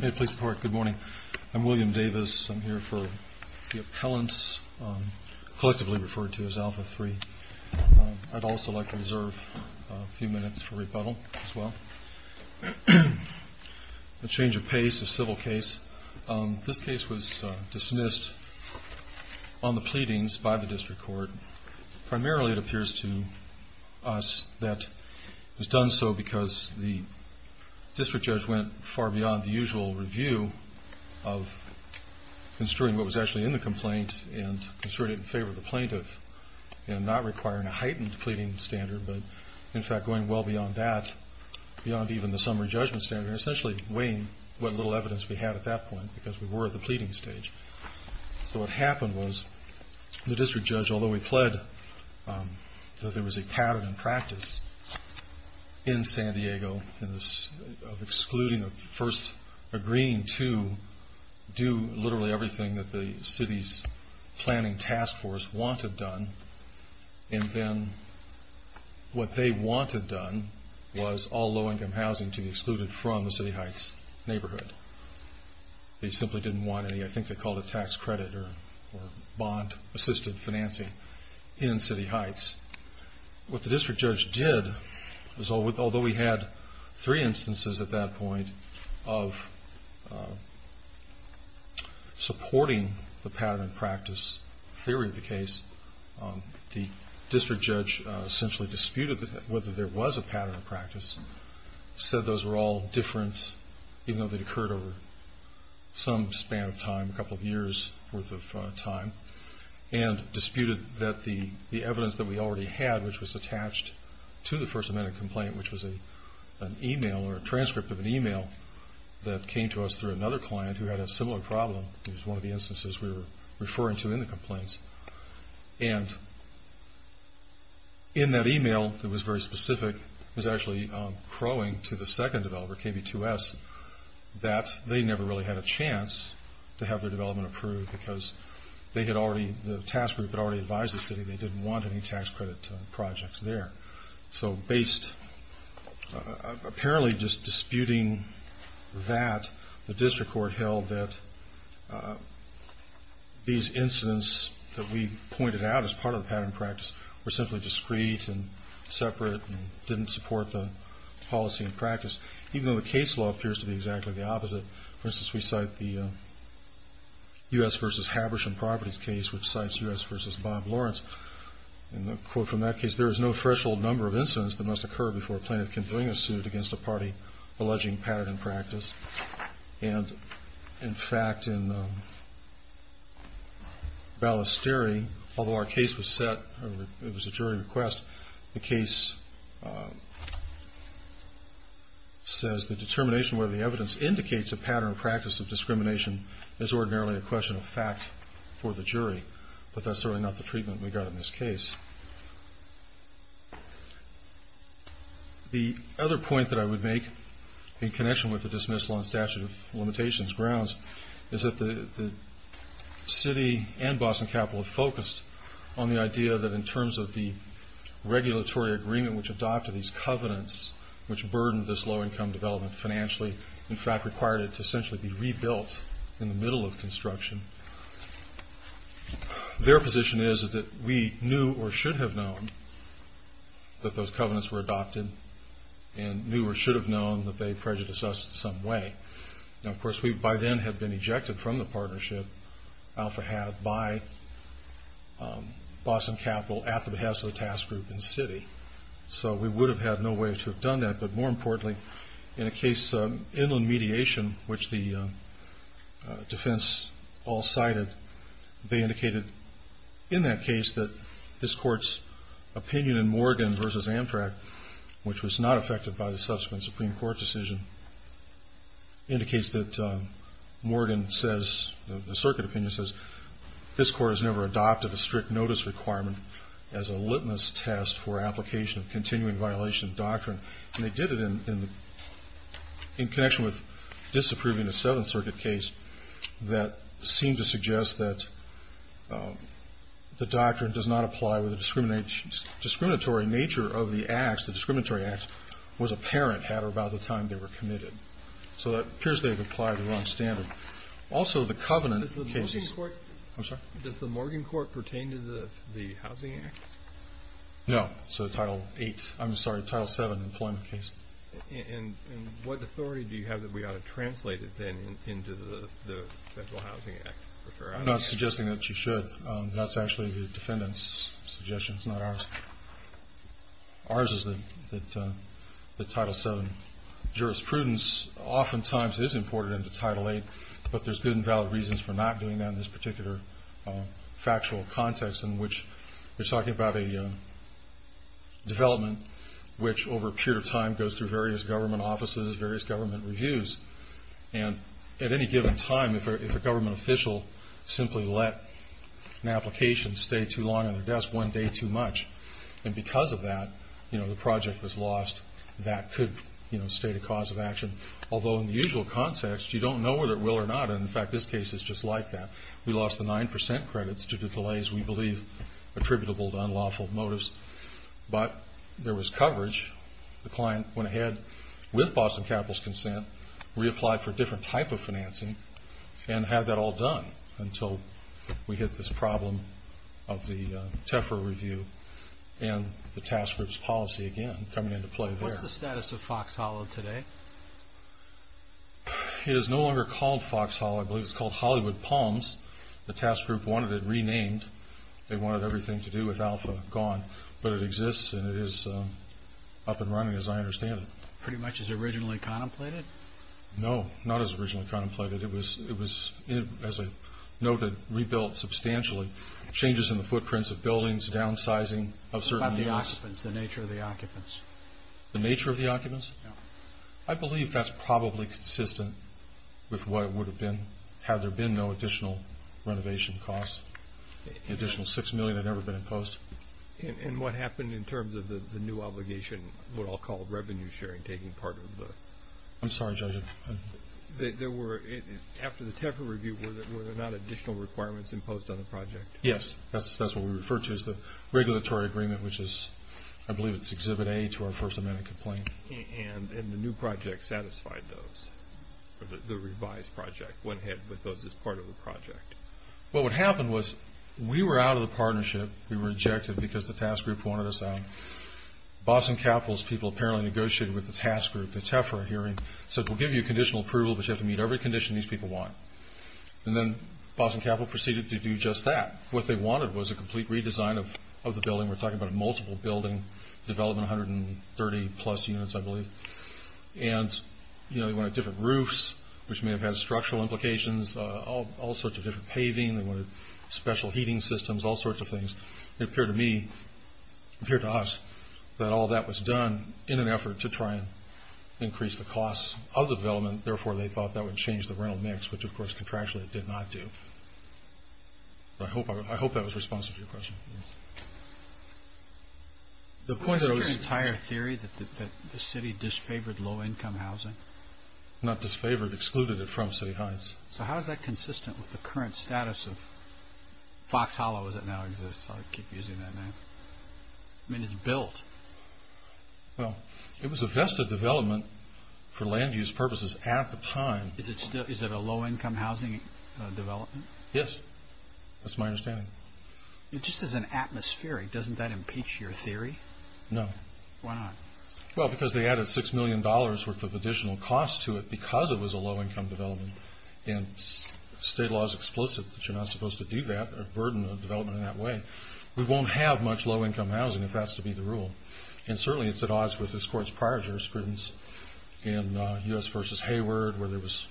Good morning. I'm William Davis. I'm here for the appellants, collectively referred to as Alpha III. I'd also like to reserve a few minutes for rebuttal as well. A change of pace, a civil case. This case was dismissed on the pleadings by the district court. Primarily it appears to us that it was done so because the district judge went far beyond the usual review of construing what was actually in the complaint and construed it in favor of the plaintiff and not requiring a heightened pleading standard. In fact, going well beyond that, beyond even the summary judgment standard, essentially weighing what little evidence we had at that point because we were at the pleading stage. So what happened was the district judge, although he pled that there was a pattern in practice in San Diego of excluding or first agreeing to do literally everything that the city's planning task force wanted done and then what they wanted done was all low-income housing to be excluded from the City Heights neighborhood. They simply didn't want any, I think they called it tax credit or bond-assisted financing in City Heights. What the district judge did was, although we had three instances at that point of supporting the pattern in practice theory of the case, the district judge essentially disputed whether there was a pattern in practice, said those were all different, even though they'd occurred at the same time. They'd occurred over some span of time, a couple of years' worth of time, and disputed that the evidence that we already had, which was attached to the first amendment complaint, which was an email or a transcript of an email that came to us through another client who had a similar problem, it was one of the instances we were referring to in the complaints, and in that email that was very specific was actually crowing to the second developer, KB2S, that they never really had a chance to have their development approved because they had already, the task group had already advised the city they didn't want any tax credit projects there. So based, apparently just disputing that, the district court held that these incidents that we pointed out as part of the pattern in practice were simply discrete and separate and didn't support the policy in practice, even though the case law appears to be exactly the opposite. For instance, we cite the U.S. versus Habersham properties case, which cites U.S. versus Bob Lawrence, and the quote from that case, there is no threshold number of incidents that must occur before a plaintiff can bring a suit against a party alleging pattern in practice. And in fact, in Ballesteri, although our case was set, it was a jury request, the case says the determination of whether the evidence indicates a pattern in practice of discrimination is ordinarily a question of fact for the jury, but that's certainly not the treatment we got in this case. The other point that I would make in connection with the dismissal on statute of limitations grounds is that the city and Boston Capital focused on the idea that in terms of the regulatory agreement which adopted these covenants, which burdened this low income development financially, in fact required it to essentially be rebuilt in the middle of construction. Their position is that we knew or should have known that those covenants were adopted and knew or should have known that they prejudiced us in some way. Now, of course, we by then had been ejected from the partnership, Alpha Hab, by Boston Capital at the behest of the task group in the city, so we would have had no way to have done that, but more importantly, in a case of inland mediation, which the defense all cited, they indicated in that case that this court's opinion in Morgan versus Amtrak, which was not affected by the subsequent Supreme Court decision, indicates that Morgan says, the circuit opinion says, this court has never adopted a strict notice requirement as a litmus test for application of continuing violation of doctrine. And they did it in connection with disapproving a Seventh Circuit case that seemed to suggest that the doctrine does not apply with the discriminatory nature of the acts. The discriminatory acts was apparent at or about the time they were committed. So it appears they've applied the wrong standard. Also, the covenant cases... I'm sorry? Does the Morgan court pertain to the housing act? No. So Title VII employment case. And what authority do you have that we ought to translate it then into the Federal Housing Act? I'm not suggesting that you should. That's actually the defendant's suggestion. It's not ours. Ours is that Title VII jurisprudence oftentimes is imported into Title VIII, but there's good and valid reasons for not doing that in this particular factual context, in which we're talking about a development which, over a period of time, goes through various government offices, various government reviews. And at any given time, if a government official simply let an application stay too long on their desk one day too much, and because of that, you know, the project was lost, that could, you know, state a cause of action. Although in the usual context, you don't know whether it will or not. And, in fact, this case is just like that. We lost the 9% credits due to delays we believe attributable to unlawful motives. But there was coverage. The client went ahead with Boston Capital's consent, reapplied for a different type of financing, and had that all done until we hit this problem of the Tefra review and the task group's policy again coming into play there. What's the status of Fox Hollow today? It is no longer called Fox Hollow. I believe it's called Hollywood Palms. The task group wanted it renamed. They wanted everything to do with Alpha gone. But it exists, and it is up and running, as I understand it. Pretty much as originally contemplated? No, not as originally contemplated. It was, as I noted, rebuilt substantially, changes in the footprints of buildings, downsizing of certain areas. What about the occupants, the nature of the occupants? The nature of the occupants? No. I believe that's probably consistent with what it would have been had there been no additional renovation costs. The additional $6 million had never been imposed. And what happened in terms of the new obligation, what I'll call revenue sharing, taking part of the... I'm sorry, Judge. After the Tefra review, were there not additional requirements imposed on the project? Yes, that's what we refer to as the regulatory agreement, which is, I believe it's Exhibit A to our First Amendment complaint. And the new project satisfied those, or the revised project went ahead with those as part of the project. Well, what happened was we were out of the partnership. We were rejected because the task group wanted us out. Boston Capital's people apparently negotiated with the task group, the Tefra hearing, said, We'll give you conditional approval, but you have to meet every condition these people want. And then Boston Capital proceeded to do just that. What they wanted was a complete redesign of the building. We're talking about a multiple building development, 130-plus units, I believe. And they wanted different roofs, which may have had structural implications, all sorts of different paving. They wanted special heating systems, all sorts of things. It appeared to me, it appeared to us, that all that was done in an effort to try and increase the costs of the development. Therefore, they thought that would change the rental mix, which, of course, contractually it did not do. I hope that was responsive to your question. The point that I was... Is there an entire theory that the city disfavored low-income housing? Not disfavored, excluded it from City Heights. So how is that consistent with the current status of Fox Hollow, as it now exists? I keep using that name. I mean, it's built. Well, it was a vested development for land use purposes at the time. Is it a low-income housing development? Yes. That's my understanding. Just as an atmospheric, doesn't that impeach your theory? No. Why not? Well, because they added $6 million worth of additional costs to it because it was a low-income development. And state law is explicit that you're not supposed to do that, or burden a development in that way. We won't have much low-income housing if that's to be the rule. And certainly it's at odds with this court's prior jurisprudence in U.S. v. Hayward, where there was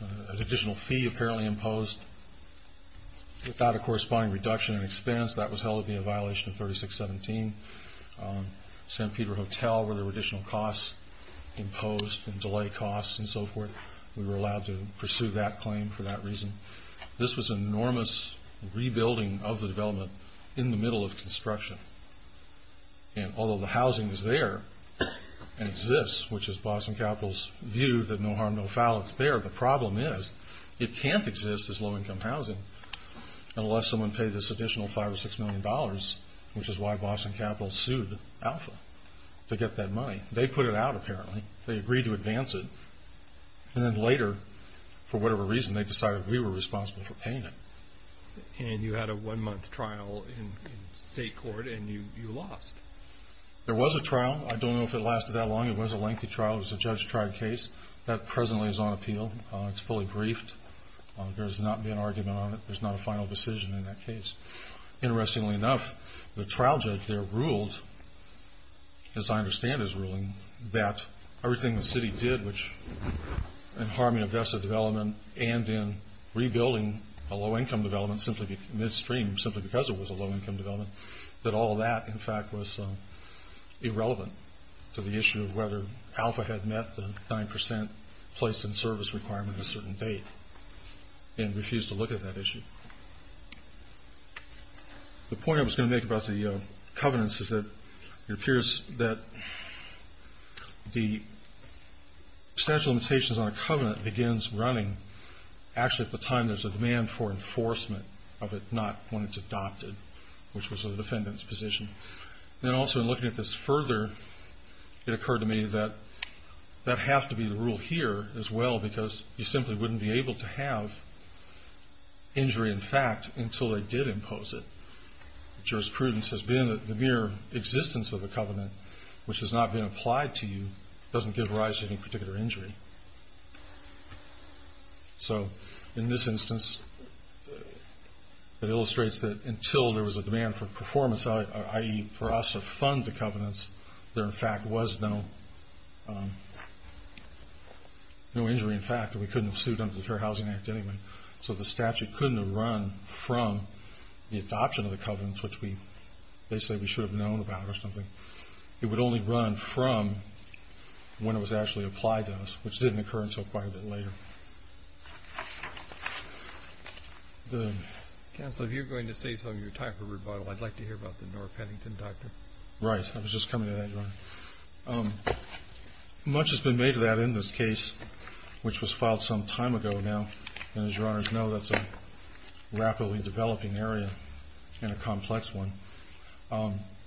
an additional fee apparently imposed without a corresponding reduction in expense. That was held to be a violation of 3617. San Pedro Hotel, where there were additional costs imposed and delay costs and so forth, we were allowed to pursue that claim for that reason. This was an enormous rebuilding of the development in the middle of construction. And although the housing is there and exists, which is Boston Capital's view that no harm, no foul, it's there, the problem is it can't exist as low-income housing unless someone paid this additional $5 or $6 million, which is why Boston Capital sued Alpha to get that money. They put it out apparently. They agreed to advance it. And then later, for whatever reason, they decided we were responsible for paying it. And you had a one-month trial in state court, and you lost. There was a trial. I don't know if it lasted that long. It was a lengthy trial. It was a judge-tried case. That presently is on appeal. It's fully briefed. There has not been an argument on it. There's not a final decision in that case. Interestingly enough, the trial judge there ruled, as I understand his ruling, that everything the city did in harming aggressive development and in rebuilding a low-income development midstream simply because it was a low-income development, that all that, in fact, was irrelevant to the issue of whether Alpha had met the 9% placed-in-service requirement at a certain date and refused to look at that issue. The point I was going to make about the covenants is that it appears that the statute of limitations on a covenant begins running actually at the time there's a demand for enforcement of it, not when it's adopted, which was the defendant's position. And also, in looking at this further, it occurred to me that that has to be the rule here as well because you simply wouldn't be able to have injury in fact until they did impose it. Jurisprudence as being the mere existence of a covenant which has not been applied to you doesn't give rise to any particular injury. So in this instance, it illustrates that until there was a demand for performance, i.e., for us to fund the covenants, there, in fact, was no injury in fact. We couldn't have sued under the Fair Housing Act anyway. So the statute couldn't have run from the adoption of the covenants, which they say we should have known about or something. It would only run from when it was actually applied to us, which didn't occur until quite a bit later. Counsel, if you're going to save some of your time for rebuttal, I'd like to hear about the Nora Pennington doctor. Right. I was just coming to that, Your Honor. Much has been made of that in this case, which was filed some time ago now. And as Your Honors know, that's a rapidly developing area and a complex one.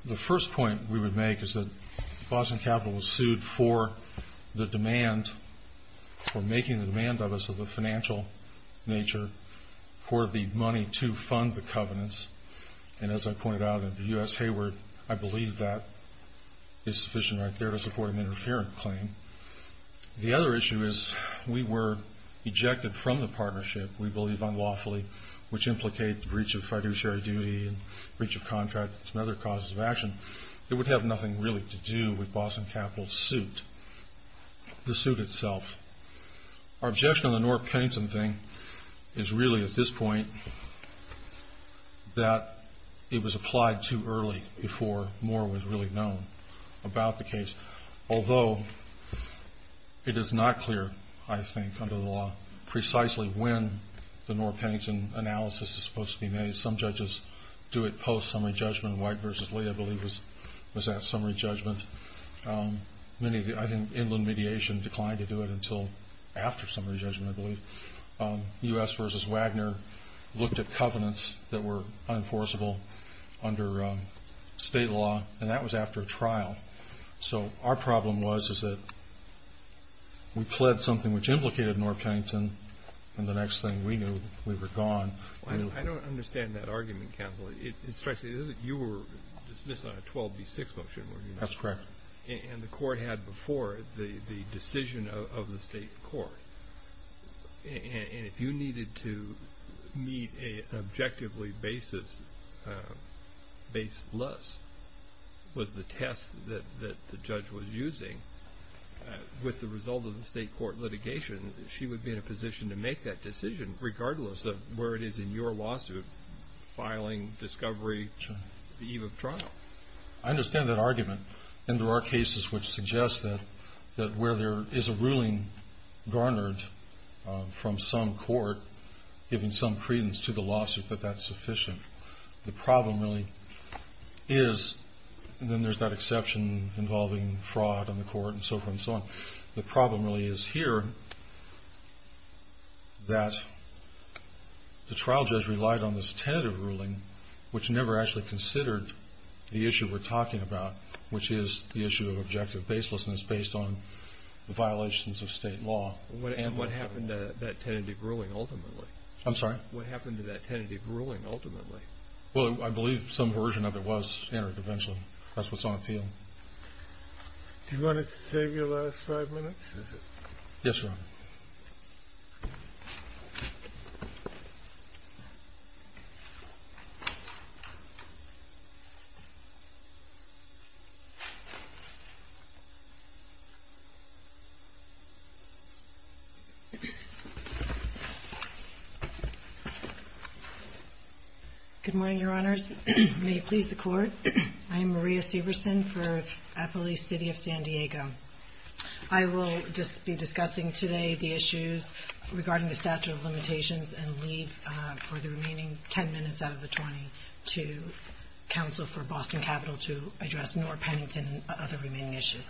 The first point we would make is that Boston Capital was sued for the demand or making the demand of us of the financial nature for the money to fund the covenants. And as I pointed out in the U.S. Hayward, I believe that is sufficient right there to support an interference claim. The other issue is we were ejected from the partnership, we believe unlawfully, which implicates breach of fiduciary duty and breach of contract and some other causes of action. It would have nothing really to do with Boston Capital's suit. The suit itself. Our objection on the Nora Pennington thing is really at this point that it was applied too early before more was really known about the case. Although it is not clear, I think, under the law precisely when the Nora Pennington analysis is supposed to be made. Some judges do it post-summary judgment. White v. Lee, I believe, was at summary judgment. I think inland mediation declined to do it until after summary judgment, I believe. U.S. v. Wagner looked at covenants that were unenforceable under state law, and that was after a trial. So our problem was that we pled something which implicated Nora Pennington, and the next thing we knew, we were gone. I don't understand that argument, counsel. You were dismissed on a 12B6 motion, weren't you? That's correct. And the court had before the decision of the state court, and if you needed to meet an objectively baseless was the test that the judge was using, with the result of the state court litigation, she would be in a position to make that decision, regardless of where it is in your lawsuit, filing, discovery, the eve of trial. I understand that argument, and there are cases which suggest that where there is a ruling garnered from some court, giving some credence to the lawsuit, that that's sufficient. The problem really is, and then there's that exception involving fraud on the court and so forth and so on, the problem really is here that the trial judge relied on this tentative ruling, which never actually considered the issue we're talking about, which is the issue of objective baselessness based on the violations of state law. And what happened to that tentative ruling ultimately? I'm sorry? What happened to that tentative ruling ultimately? Well, I believe some version of it was entered eventually. That's what's on appeal. Do you want to save your last five minutes? Yes, Your Honor. Good morning, Your Honors. May it please the Court. I am Maria Severson for Appalachia City of San Diego. I will just be discussing today the issues regarding the statute of limitations and leave for the remaining 10 minutes out of the 20 to counsel for Boston Capital to address Norah Pennington and other remaining issues.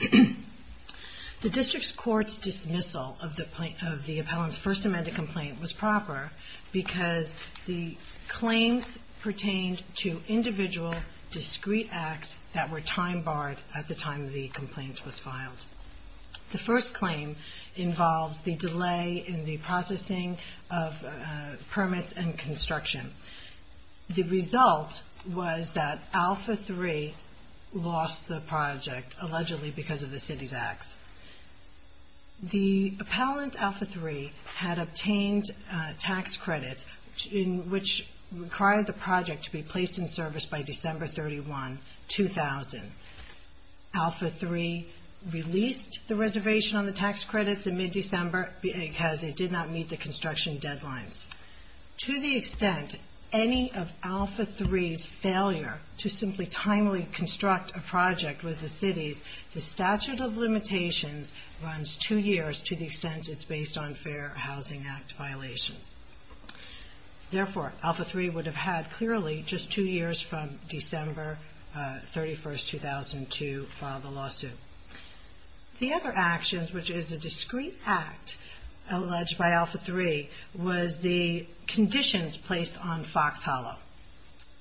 The district court's dismissal of the appellant's first amended complaint was proper because the claims pertained to individual discrete acts that were time barred at the time the complaint was filed. The first claim involves the delay in the processing of permits and construction. The result was that Alpha 3 lost the project, allegedly because of the city's acts. The appellant, Alpha 3, had obtained tax credits, which required the project to be placed in service by December 31, 2000. Alpha 3 released the reservation on the tax credits in mid-December because it did not meet the construction deadlines. To the extent any of Alpha 3's failure to simply timely construct a project with the city's, the statute of limitations runs two years to the extent it's based on Fair Housing Act violations. Therefore, Alpha 3 would have had clearly just two years from December 31, 2002 to file the lawsuit. The other actions, which is a discrete act alleged by Alpha 3, was the conditions placed on Fox Hollow.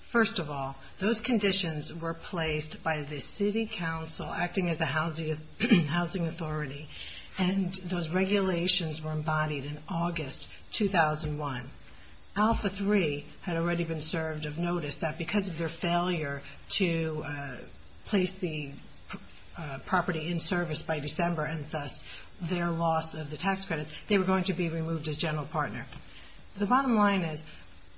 First of all, those conditions were placed by the city council acting as a housing authority, and those regulations were embodied in August 2001. Alpha 3 had already been served of notice that because of their failure to place the property in service by December and thus their loss of the tax credits, they were going to be removed as general partner. The bottom line is,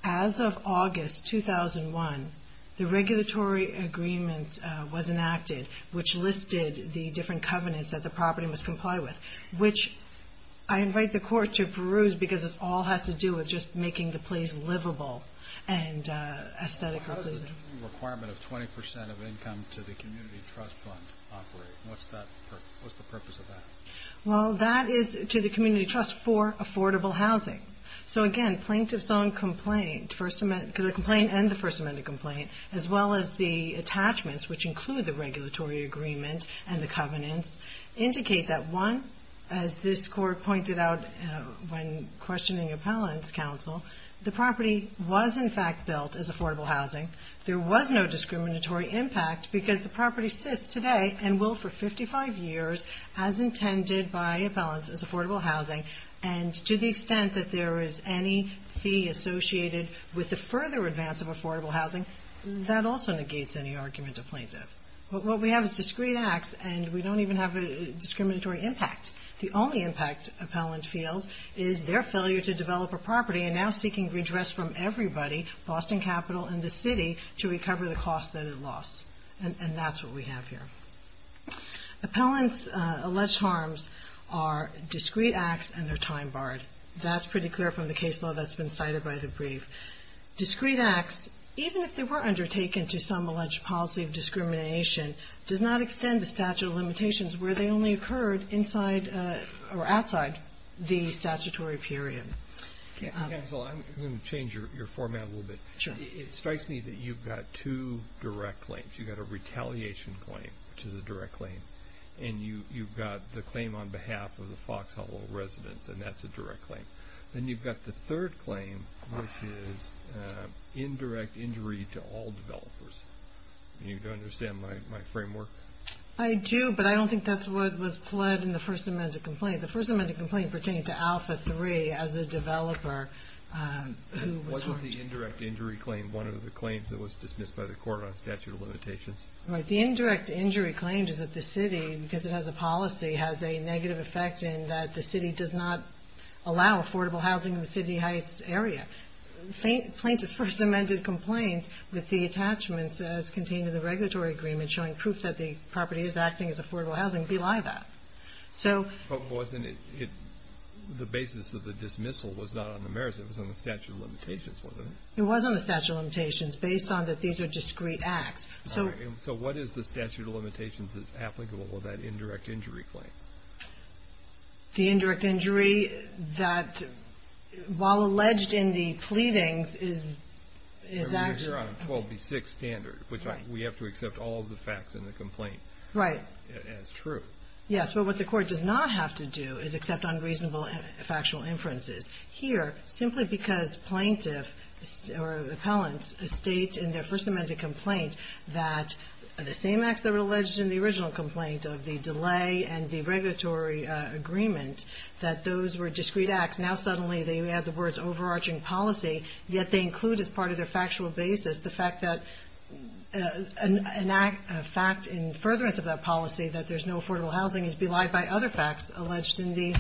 as of August 2001, the regulatory agreement was enacted, which listed the different covenants that the property must comply with, which I invite the court to peruse because it all has to do with just making the place livable and aesthetically pleasing. How does the new requirement of 20% of income to the community trust fund operate? What's the purpose of that? Well, that is to the community trust for affordable housing. So again, plaintiff's own complaint, the complaint and the First Amendment complaint, as well as the attachments, which include the regulatory agreement and the covenants, indicate that one, as this court pointed out when questioning appellant's counsel, the property was in fact built as affordable housing. There was no discriminatory impact because the property sits today and will for 55 years as intended by appellants as affordable housing. And to the extent that there is any fee associated with the further advance of affordable housing, that also negates any argument of plaintiff. What we have is discreet acts, and we don't even have a discriminatory impact. The only impact appellant feels is their failure to develop a property and now seeking redress from everybody, Boston Capital and the city, to recover the cost that it lost. And that's what we have here. Appellant's alleged harms are discreet acts and their time barred. That's pretty clear from the case law that's been cited by the brief. Discreet acts, even if they were undertaken to some alleged policy of discrimination, does not extend the statute of limitations where they only occurred inside or outside the statutory period. Counsel, I'm going to change your format a little bit. It strikes me that you've got two direct claims. You've got a retaliation claim, which is a direct claim, and you've got the claim on behalf of the Fox Hollow residence, and that's a direct claim. Then you've got the third claim, which is indirect injury to all developers. Do you understand my framework? I do, but I don't think that's what was pled in the First Amendment complaint. Why is the indirect injury claim one of the claims that was dismissed by the court on statute of limitations? The indirect injury claim is that the city, because it has a policy, has a negative effect in that the city does not allow affordable housing in the Sydney Heights area. Plaintiff's First Amendment complaint with the attachments as contained in the regulatory agreement showing proof that the property is acting as affordable housing belie that. But wasn't it the basis of the dismissal was not on the merits. It was on the statute of limitations, wasn't it? It was on the statute of limitations based on that these are discrete acts. So what is the statute of limitations that's applicable to that indirect injury claim? The indirect injury that, while alleged in the pleadings, is actually... We're on a 12B6 standard, which we have to accept all of the facts in the complaint as true. Yes, but what the court does not have to do is accept unreasonable factual inferences. Here, simply because plaintiffs or appellants state in their First Amendment complaint that the same acts that were alleged in the original complaint of the delay and the regulatory agreement, that those were discrete acts, now suddenly they have the words overarching policy, yet they include as part of their factual basis the fact that an act, a fact in furtherance of that policy that there's no affordable housing is belied by other facts alleged in the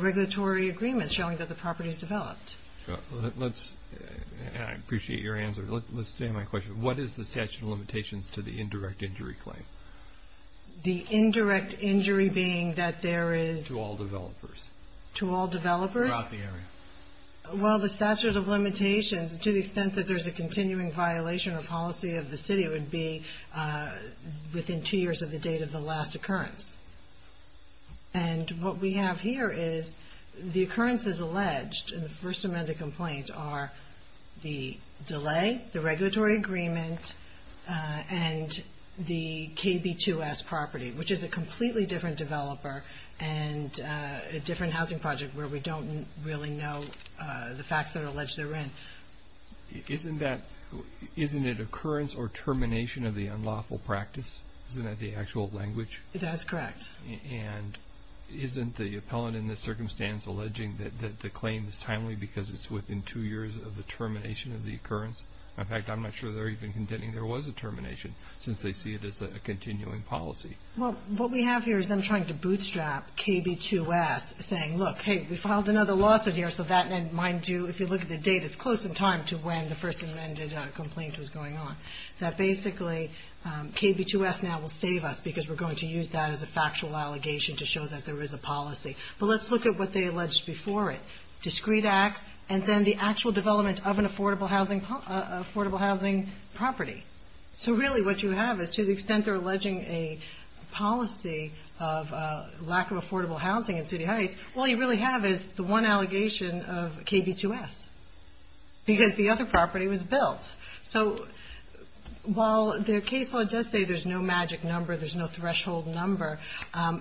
regulatory agreement showing that the property is developed. I appreciate your answer. Let's stay on my question. What is the statute of limitations to the indirect injury claim? The indirect injury being that there is... To all developers. To all developers? Throughout the area. Well, the statute of limitations, to the extent that there's a continuing violation or policy of the city, would be within two years of the date of the last occurrence. And what we have here is the occurrences alleged in the First Amendment complaint are the delay, the regulatory agreement, and the KB2S property, which is a completely different developer and a different housing project where we don't really know the facts that are alleged therein. Isn't it occurrence or termination of the unlawful practice? Isn't that the actual language? That is correct. And isn't the appellant in this circumstance alleging that the claim is timely because it's within two years of the termination of the occurrence? In fact, I'm not sure they're even contending there was a termination since they see it as a continuing policy. Well, what we have here is them trying to bootstrap KB2S, saying, look, hey, we filed another lawsuit here, so that, mind you, if you look at the date, it's close in time to when the First Amendment complaint was going on. That basically KB2S now will save us because we're going to use that as a factual allegation to show that there is a policy. But let's look at what they alleged before it, discrete acts and then the actual development of an affordable housing property. So really what you have is to the extent they're alleging a policy of lack of affordable housing in City Heights, all you really have is the one allegation of KB2S because the other property was built. So while their case law does say there's no magic number, there's no threshold number,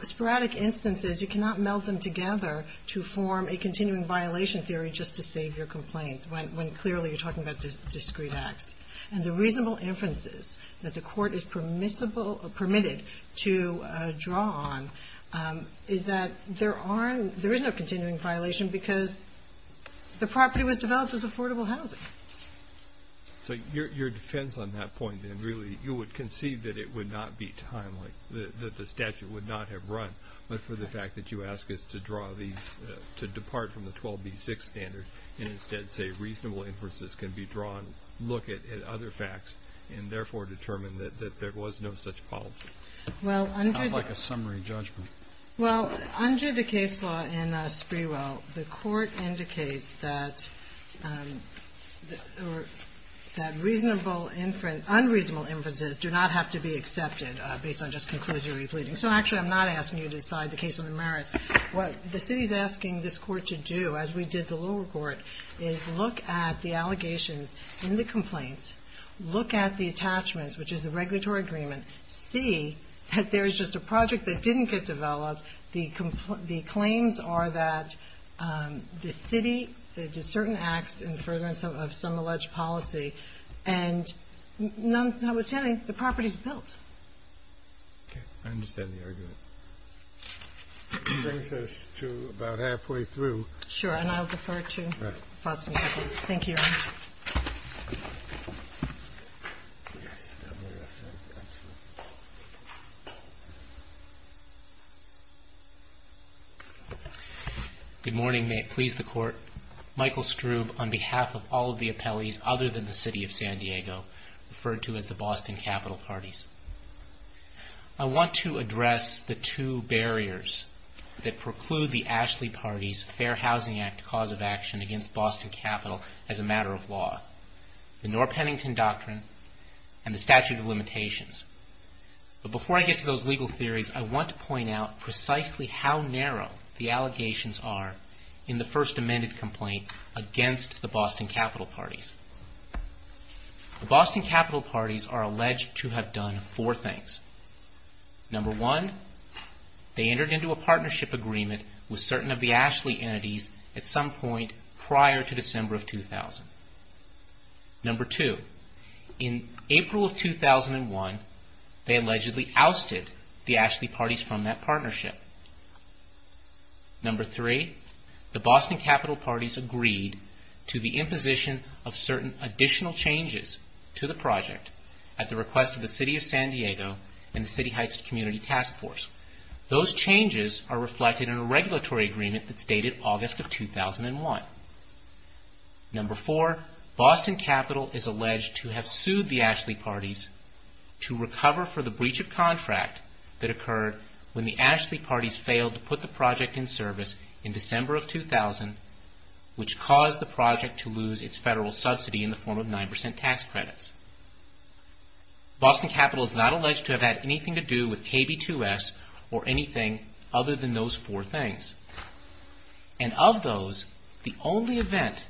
sporadic instances, you cannot meld them together to form a continuing violation theory just to save your complaints when clearly you're talking about discrete acts. And the reasonable inferences that the Court is permissible or permitted to draw on is that there aren't – there is no continuing violation because the property was developed as affordable housing. So your defense on that point, then, really, you would concede that it would not be timely, that the statute would not have run, but for the fact that you ask us to draw these, to depart from the 12B6 standard and instead say reasonable inferences can be drawn, look at other facts, and therefore determine that there was no such policy. It's like a summary judgment. Well, under the case law in Sprewell, the Court indicates that reasonable inferences – unreasonable inferences do not have to be accepted based on just conclusory pleadings. So actually, I'm not asking you to decide the case on the merits. What the city is asking this Court to do, as we did the lower court, is look at the allegations in the complaint, look at the attachments, which is a regulatory agreement, and see that there is just a project that didn't get developed. The claims are that the city, that it did certain acts in the furtherance of some alleged policy, and notwithstanding, the property is built. Okay. I understand the argument. That brings us to about halfway through. And I'll defer to you. Right. Thank you, Your Honor. Thank you. Good morning. May it please the Court. Michael Strube, on behalf of all of the appellees, other than the City of San Diego, referred to as the Boston Capital Parties. I want to address the two barriers that preclude the Ashley Party's Fair Housing Act cause of action against Boston Capital as a matter of law, the Norr-Pennington Doctrine, and the statute of limitations. But before I get to those legal theories, I want to point out precisely how narrow the allegations are in the first amended complaint against the Boston Capital Parties. The Boston Capital Parties are alleged to have done four things. Number one, they entered into a partnership agreement with certain of the Ashley entities at some point prior to December of 2000. Number two, in April of 2001, they allegedly ousted the Ashley Parties from that partnership. Number three, the Boston Capital Parties agreed to the imposition of certain additional changes to the project at the request of the City of San Diego and the City Heights Community Task Force. Those changes are reflected in a regulatory agreement that's dated August of 2001. Number four, Boston Capital is alleged to have sued the Ashley Parties to recover for the breach of contract that occurred when the Ashley Parties failed to put the project in service in December of 2000, which caused the project to lose its federal subsidy in the form of 9% tax credits. Boston Capital is not alleged to have had anything to do with KB2S or anything other than those four things. And of those, the only event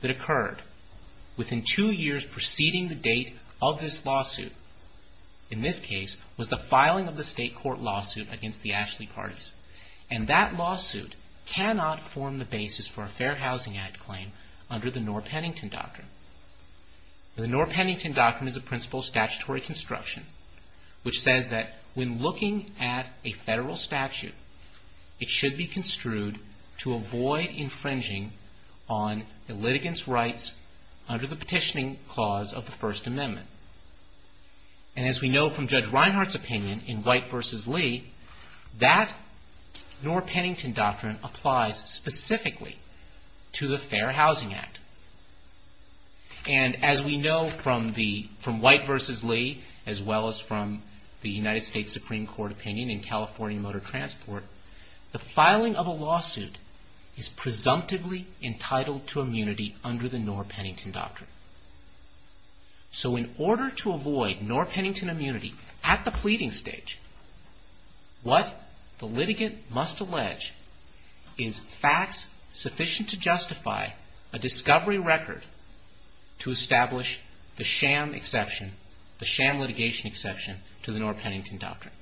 that occurred within two years preceding the date of this lawsuit, in this case, was the filing of the state court lawsuit against the Ashley Parties. And that lawsuit cannot form the basis for a Fair Housing Act claim under the Norr-Pennington Doctrine. The Norr-Pennington Doctrine is a principle of statutory construction, which says that when looking at a federal statute, it should be construed to avoid infringing on the litigant's rights under the petitioning clause of the First Amendment. And as we know from Judge Reinhart's opinion in White v. Lee, that Norr-Pennington Doctrine applies specifically to the Fair Housing Act. And as we know from White v. Lee, as well as from the United States Supreme Court opinion in California Motor Transport, the filing of a lawsuit is presumptively entitled to immunity under the Norr-Pennington Doctrine. So in order to avoid Norr-Pennington immunity at the pleading stage, what the litigant must allege is facts sufficient to justify a discovery record to establish the sham exception, the sham litigation exception, to the Norr-Pennington Doctrine.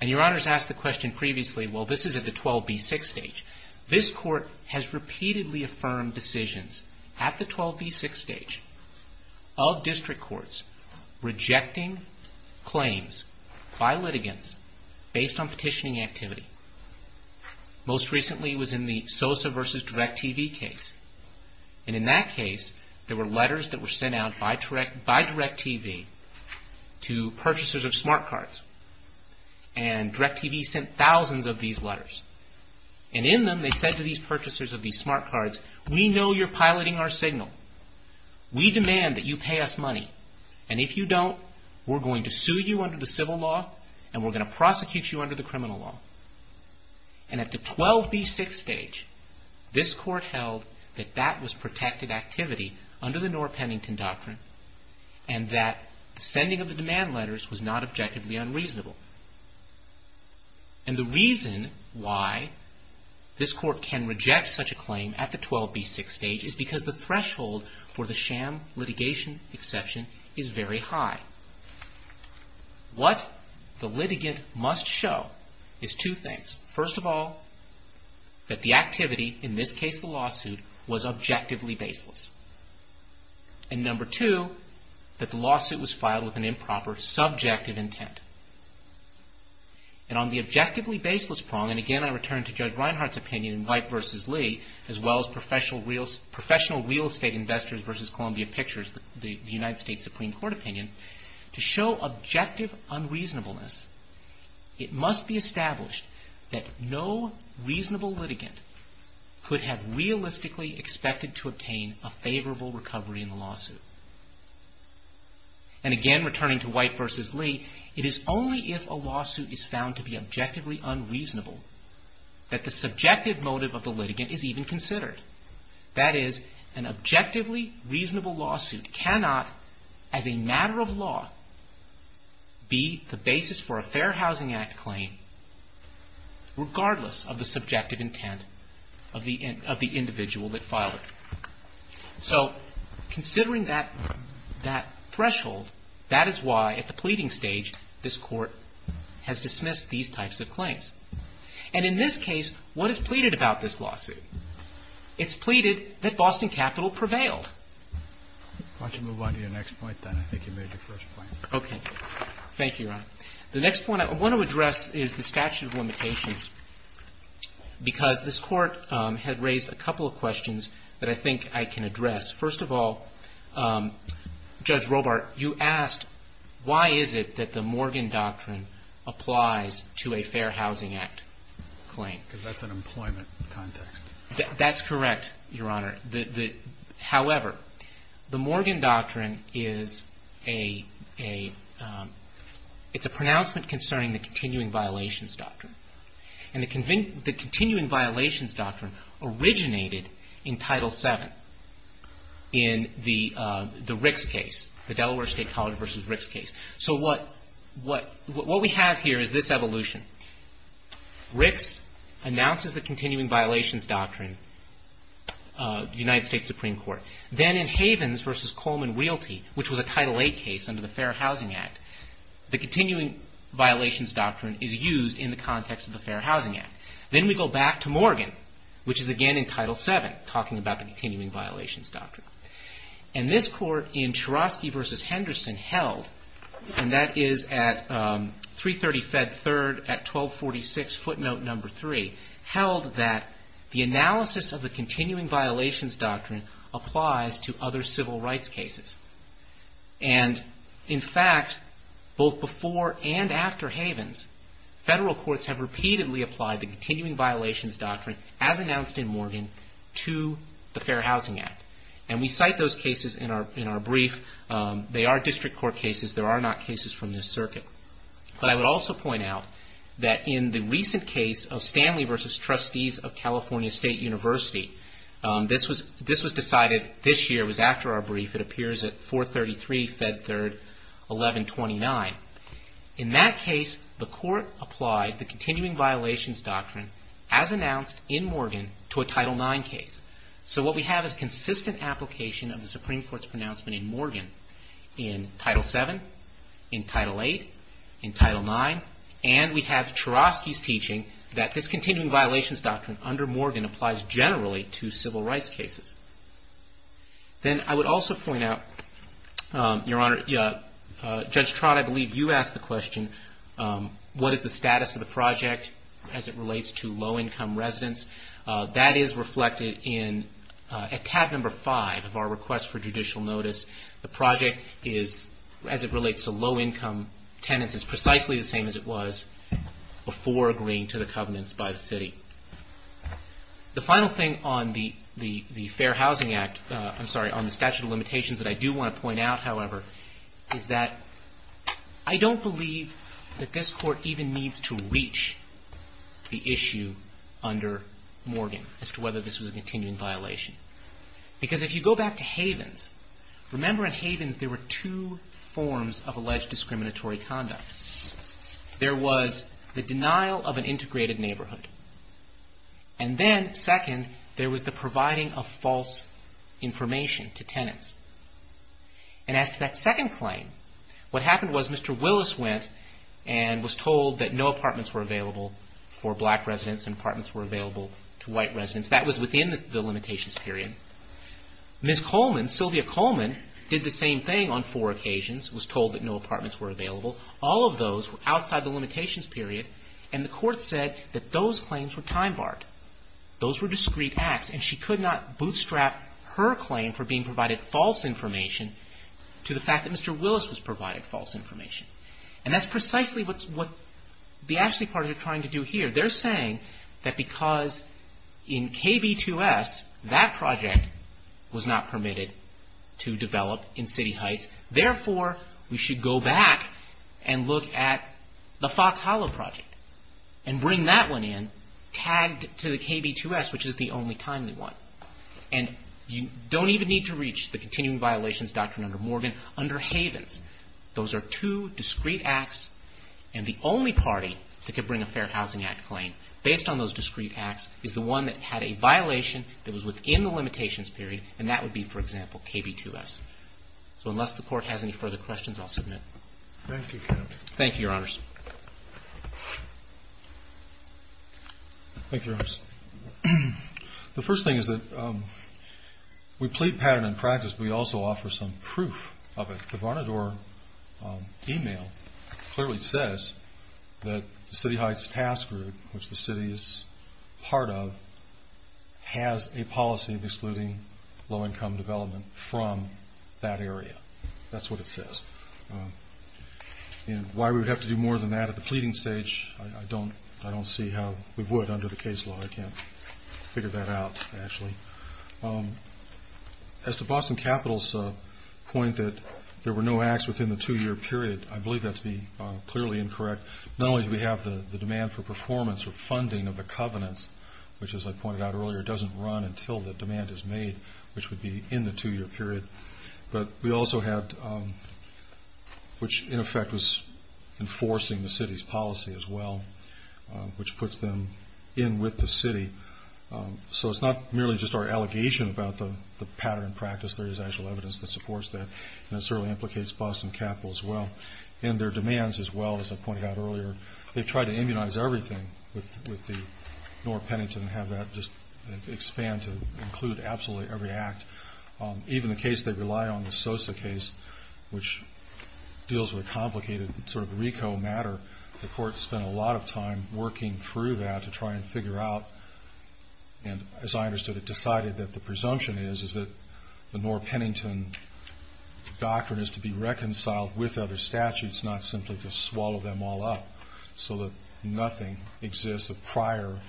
And Your Honors asked the question previously, well, this is at the 12b6 stage. This Court has repeatedly affirmed decisions at the 12b6 stage of district courts rejecting claims by litigants based on petitioning activity. Most recently was in the Sosa v. DirecTV case. And in that case, there were letters that were sent out by DirecTV to purchasers of smart cards. And DirecTV sent thousands of these letters. And in them they said to these purchasers of these smart cards, we know you're piloting our signal. We demand that you pay us money. And if you don't, we're going to sue you under the civil law and we're going to prosecute you under the criminal law. And at the 12b6 stage, this Court held that that was protected activity under the Norr-Pennington Doctrine and that sending of the demand letters was not objectively unreasonable. And the reason why this Court can reject such a claim at the 12b6 stage is because the threshold for the sham litigation exception is very high. What the litigant must show is two things. First of all, that the activity, in this case the lawsuit, was objectively baseless. And number two, that the lawsuit was filed with an improper, subjective intent. And on the objectively baseless prong, and again I return to Judge Reinhart's opinion in White v. Lee, as well as Professional Real Estate Investors v. Columbia Pictures, the United States Supreme Court opinion, to show objective unreasonableness, it must be established that no reasonable litigant could have realistically expected to obtain a favorable recovery in the lawsuit. And again, returning to White v. Lee, it is only if a lawsuit is found to be objectively unreasonable that the subjective motive of the litigant is even considered. That is, an objectively reasonable lawsuit cannot, as a matter of law, be the basis for a Fair Housing Act claim regardless of the subjective intent of the individual that filed it. So, considering that threshold, that is why at the pleading stage this Court has dismissed these types of claims. And in this case, what is pleaded about this lawsuit? It's pleaded that Boston Capital prevailed. Why don't you move on to your next point, then? I think you made your first point. Okay. Thank you, Your Honor. The next point I want to address is the statute of limitations because this Court had raised a couple of questions that I think I can address. First of all, Judge Robart, you asked, why is it that the Morgan Doctrine applies to a Fair Housing Act claim? Because that's an employment context. That's correct, Your Honor. However, the Morgan Doctrine is a... it's a pronouncement concerning the continuing violations doctrine. And the continuing violations doctrine originated in Title VII in the Ricks case, the Delaware State College v. Ricks case. So what we have here is this evolution. Ricks announces the continuing violations doctrine in the United States Supreme Court. Then in Havens v. Coleman-Whealty, which was a Title VIII case under the Fair Housing Act, the continuing violations doctrine is used in the context of the Fair Housing Act. Then we go back to Morgan, which is again in Title VII, talking about the continuing violations doctrine. And this Court in Chorosky v. Henderson held, and that is at 330 Fed 3rd at 1246 footnote number 3, held that the analysis of the continuing violations doctrine applies to other civil rights cases. And in fact, both before and after Havens, federal courts have repeatedly applied the continuing violations doctrine, as announced in Morgan, to the Fair Housing Act. And we cite those cases in our brief. They are district court cases. There are not cases from this circuit. But I would also point out that in the recent case of Stanley v. Trustees of California State University, this was decided this year. It was after our brief. It appears at 433 Fed 3rd, 1129. In that case, the Court applied the continuing violations doctrine, as announced in Morgan, to a Title IX case. So what we have is consistent application of the Supreme Court's pronouncement in Morgan in Title VII, in Title VIII, in Title IX, and we have Cherovsky's teaching that this continuing violations doctrine under Morgan applies generally to civil rights cases. Then I would also point out, Your Honor, Judge Trott, I believe you asked the question, what is the status of the project as it relates to low-income residents? That is reflected in, at tab number 5 of our request for judicial notice, the project is, as it relates to low-income tenants, is precisely the same as it was before agreeing to the covenants by the city. The final thing on the Fair Housing Act, I'm sorry, on the statute of limitations that I do want to point out, however, is that I don't believe that this Court even needs to reach the issue under Morgan as to whether this was a continuing violation. Because if you go back to Havens, remember in Havens there were two forms of alleged discriminatory conduct. There was the denial of an integrated neighborhood. And then, second, there was the providing of false information to tenants. And as to that second claim, what happened was Mr. Willis went and was told that no apartments were available for black residents and apartments were available to white residents. That was within the limitations period. Ms. Coleman, Sylvia Coleman, did the same thing on four occasions, was told that no apartments were available. All of those were outside the limitations period and the Court said that those claims were time-barred. Those were discrete acts and she could not bootstrap her claim for being provided false information to the fact that Mr. Willis was provided false information. And that's precisely what the Ashley parties are trying to do here. They're saying that because in KB2S that project was not permitted to develop in City Heights, therefore we should go back and look at the Fox Hollow project and bring that one in tagged to the KB2S, which is the only timely one. And you don't even need to reach the continuing violations doctrine under Morgan. Under Havens, those are two discrete acts and the only party that could bring a Fair Housing Act claim based on those discrete acts is the one that had a violation that was within the limitations period and that would be, for example, KB2S. So unless the Court has any further questions, I'll submit. Thank you, Kevin. Thank you, Your Honors. Thank you, Your Honors. The first thing is that we plead pattern in practice, but we also offer some proof of it. The Varnador email clearly says that the City Heights task group, which the City is part of, has a policy of excluding low-income development from that area. That's what it says. Why we would have to do more than that at the pleading stage, I don't see how we would under the case law. I can't figure that out, actually. As to Boston Capital's point that there were no acts within the two-year period, I believe that to be clearly incorrect. Not only do we have the demand for performance or funding of the covenants, which, as I pointed out earlier, doesn't run until the demand is made, which would be in the two-year period, but we also had... which, in effect, was enforcing the City's policy as well, which puts them in with the City. So it's not merely just our allegation about the pattern in practice. There is actual evidence that supports that, and it certainly implicates Boston Capital as well in their demands as well, as I pointed out earlier. They've tried to immunize everything with the Norr-Pennington and have that just expand to include absolutely every act. Even the case they rely on, the Sosa case, which deals with a complicated sort of RICO matter, the Court spent a lot of time working through that to try and figure out, and as I understood it, decided that the presumption is that the Norr-Pennington doctrine is to be reconciled with other statutes, not simply to swallow them all up so that nothing exists of prior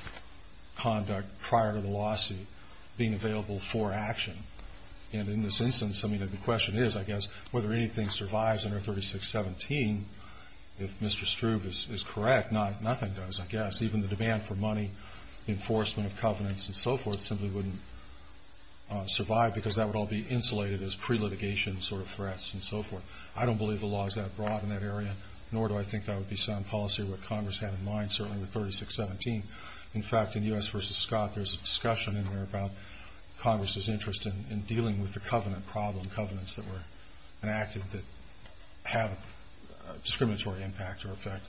conduct, prior to the lawsuit being available for action. And in this instance, I mean, the question is, I guess, whether anything survives under 3617. If Mr. Stroob is correct, nothing does, I guess. Even the demand for money, enforcement of covenants and so forth simply wouldn't survive because that would all be insulated as pre-litigation sort of threats and so forth. I don't believe the law is that broad in that area, nor do I think that would be sound policy what Congress had in mind, certainly with 3617. In fact, in U.S. v. Scott, there's a discussion in there about Congress's interest in dealing with the covenant problem, covenants that were enacted that have discriminatory impact or effect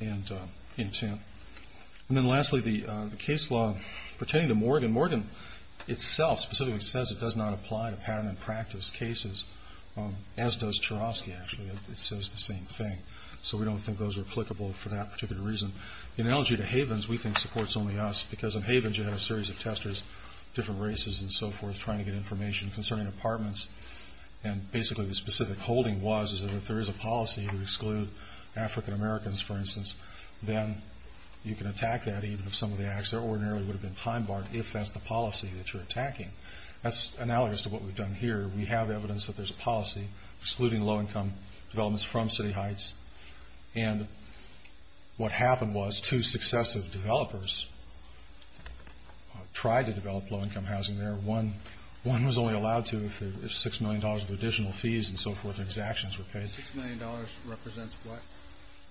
and intent. And then lastly, the case law pertaining to Morgan. Morgan itself specifically says it does not apply to pattern and practice cases, as does Cherovsky, actually. It says the same thing. So we don't think those are applicable for that particular reason. In elegy to Havens, we think supports only us because in Havens you have a series of testers, different races and so forth, trying to get information concerning apartments. And basically the specific holding was is that if there is a policy to exclude African Americans, for instance, then you can attack that even if some of the acts there ordinarily would have been time-barred if that's the policy that you're attacking. That's analogous to what we've done here. We have evidence that there's a policy excluding low-income developments from City Heights. And what happened was two successive developers tried to develop low-income housing there. One was only allowed to if $6 million of additional fees and so forth and exactions were paid. $6 million represents what?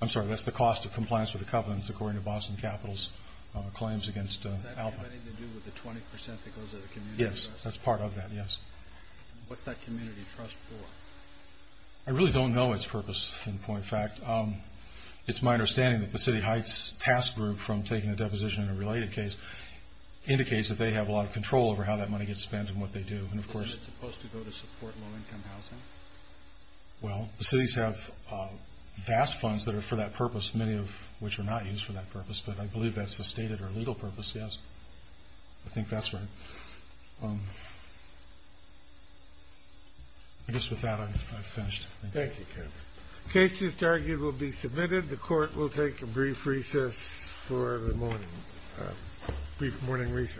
I'm sorry, that's the cost of compliance with the covenants, according to Boston Capital's claims against Alpha. Does that have anything to do with the 20% that goes to the community? Yes, that's part of that, yes. What's that community trust for? I really don't know its purpose in point of fact. It's my understanding that the City Heights task group from taking a deposition in a related case indicates that they have a lot of control over how that money gets spent and what they do. Isn't it supposed to go to support low-income housing? Well, the cities have vast funds that are for that purpose, many of which are not used for that purpose, but I believe that's the stated or legal purpose, yes. I think that's right. I guess with that I've finished. Thank you, Kevin. The case just argued will be submitted. The court will take a brief recess for the morning. Brief morning recess. All rise.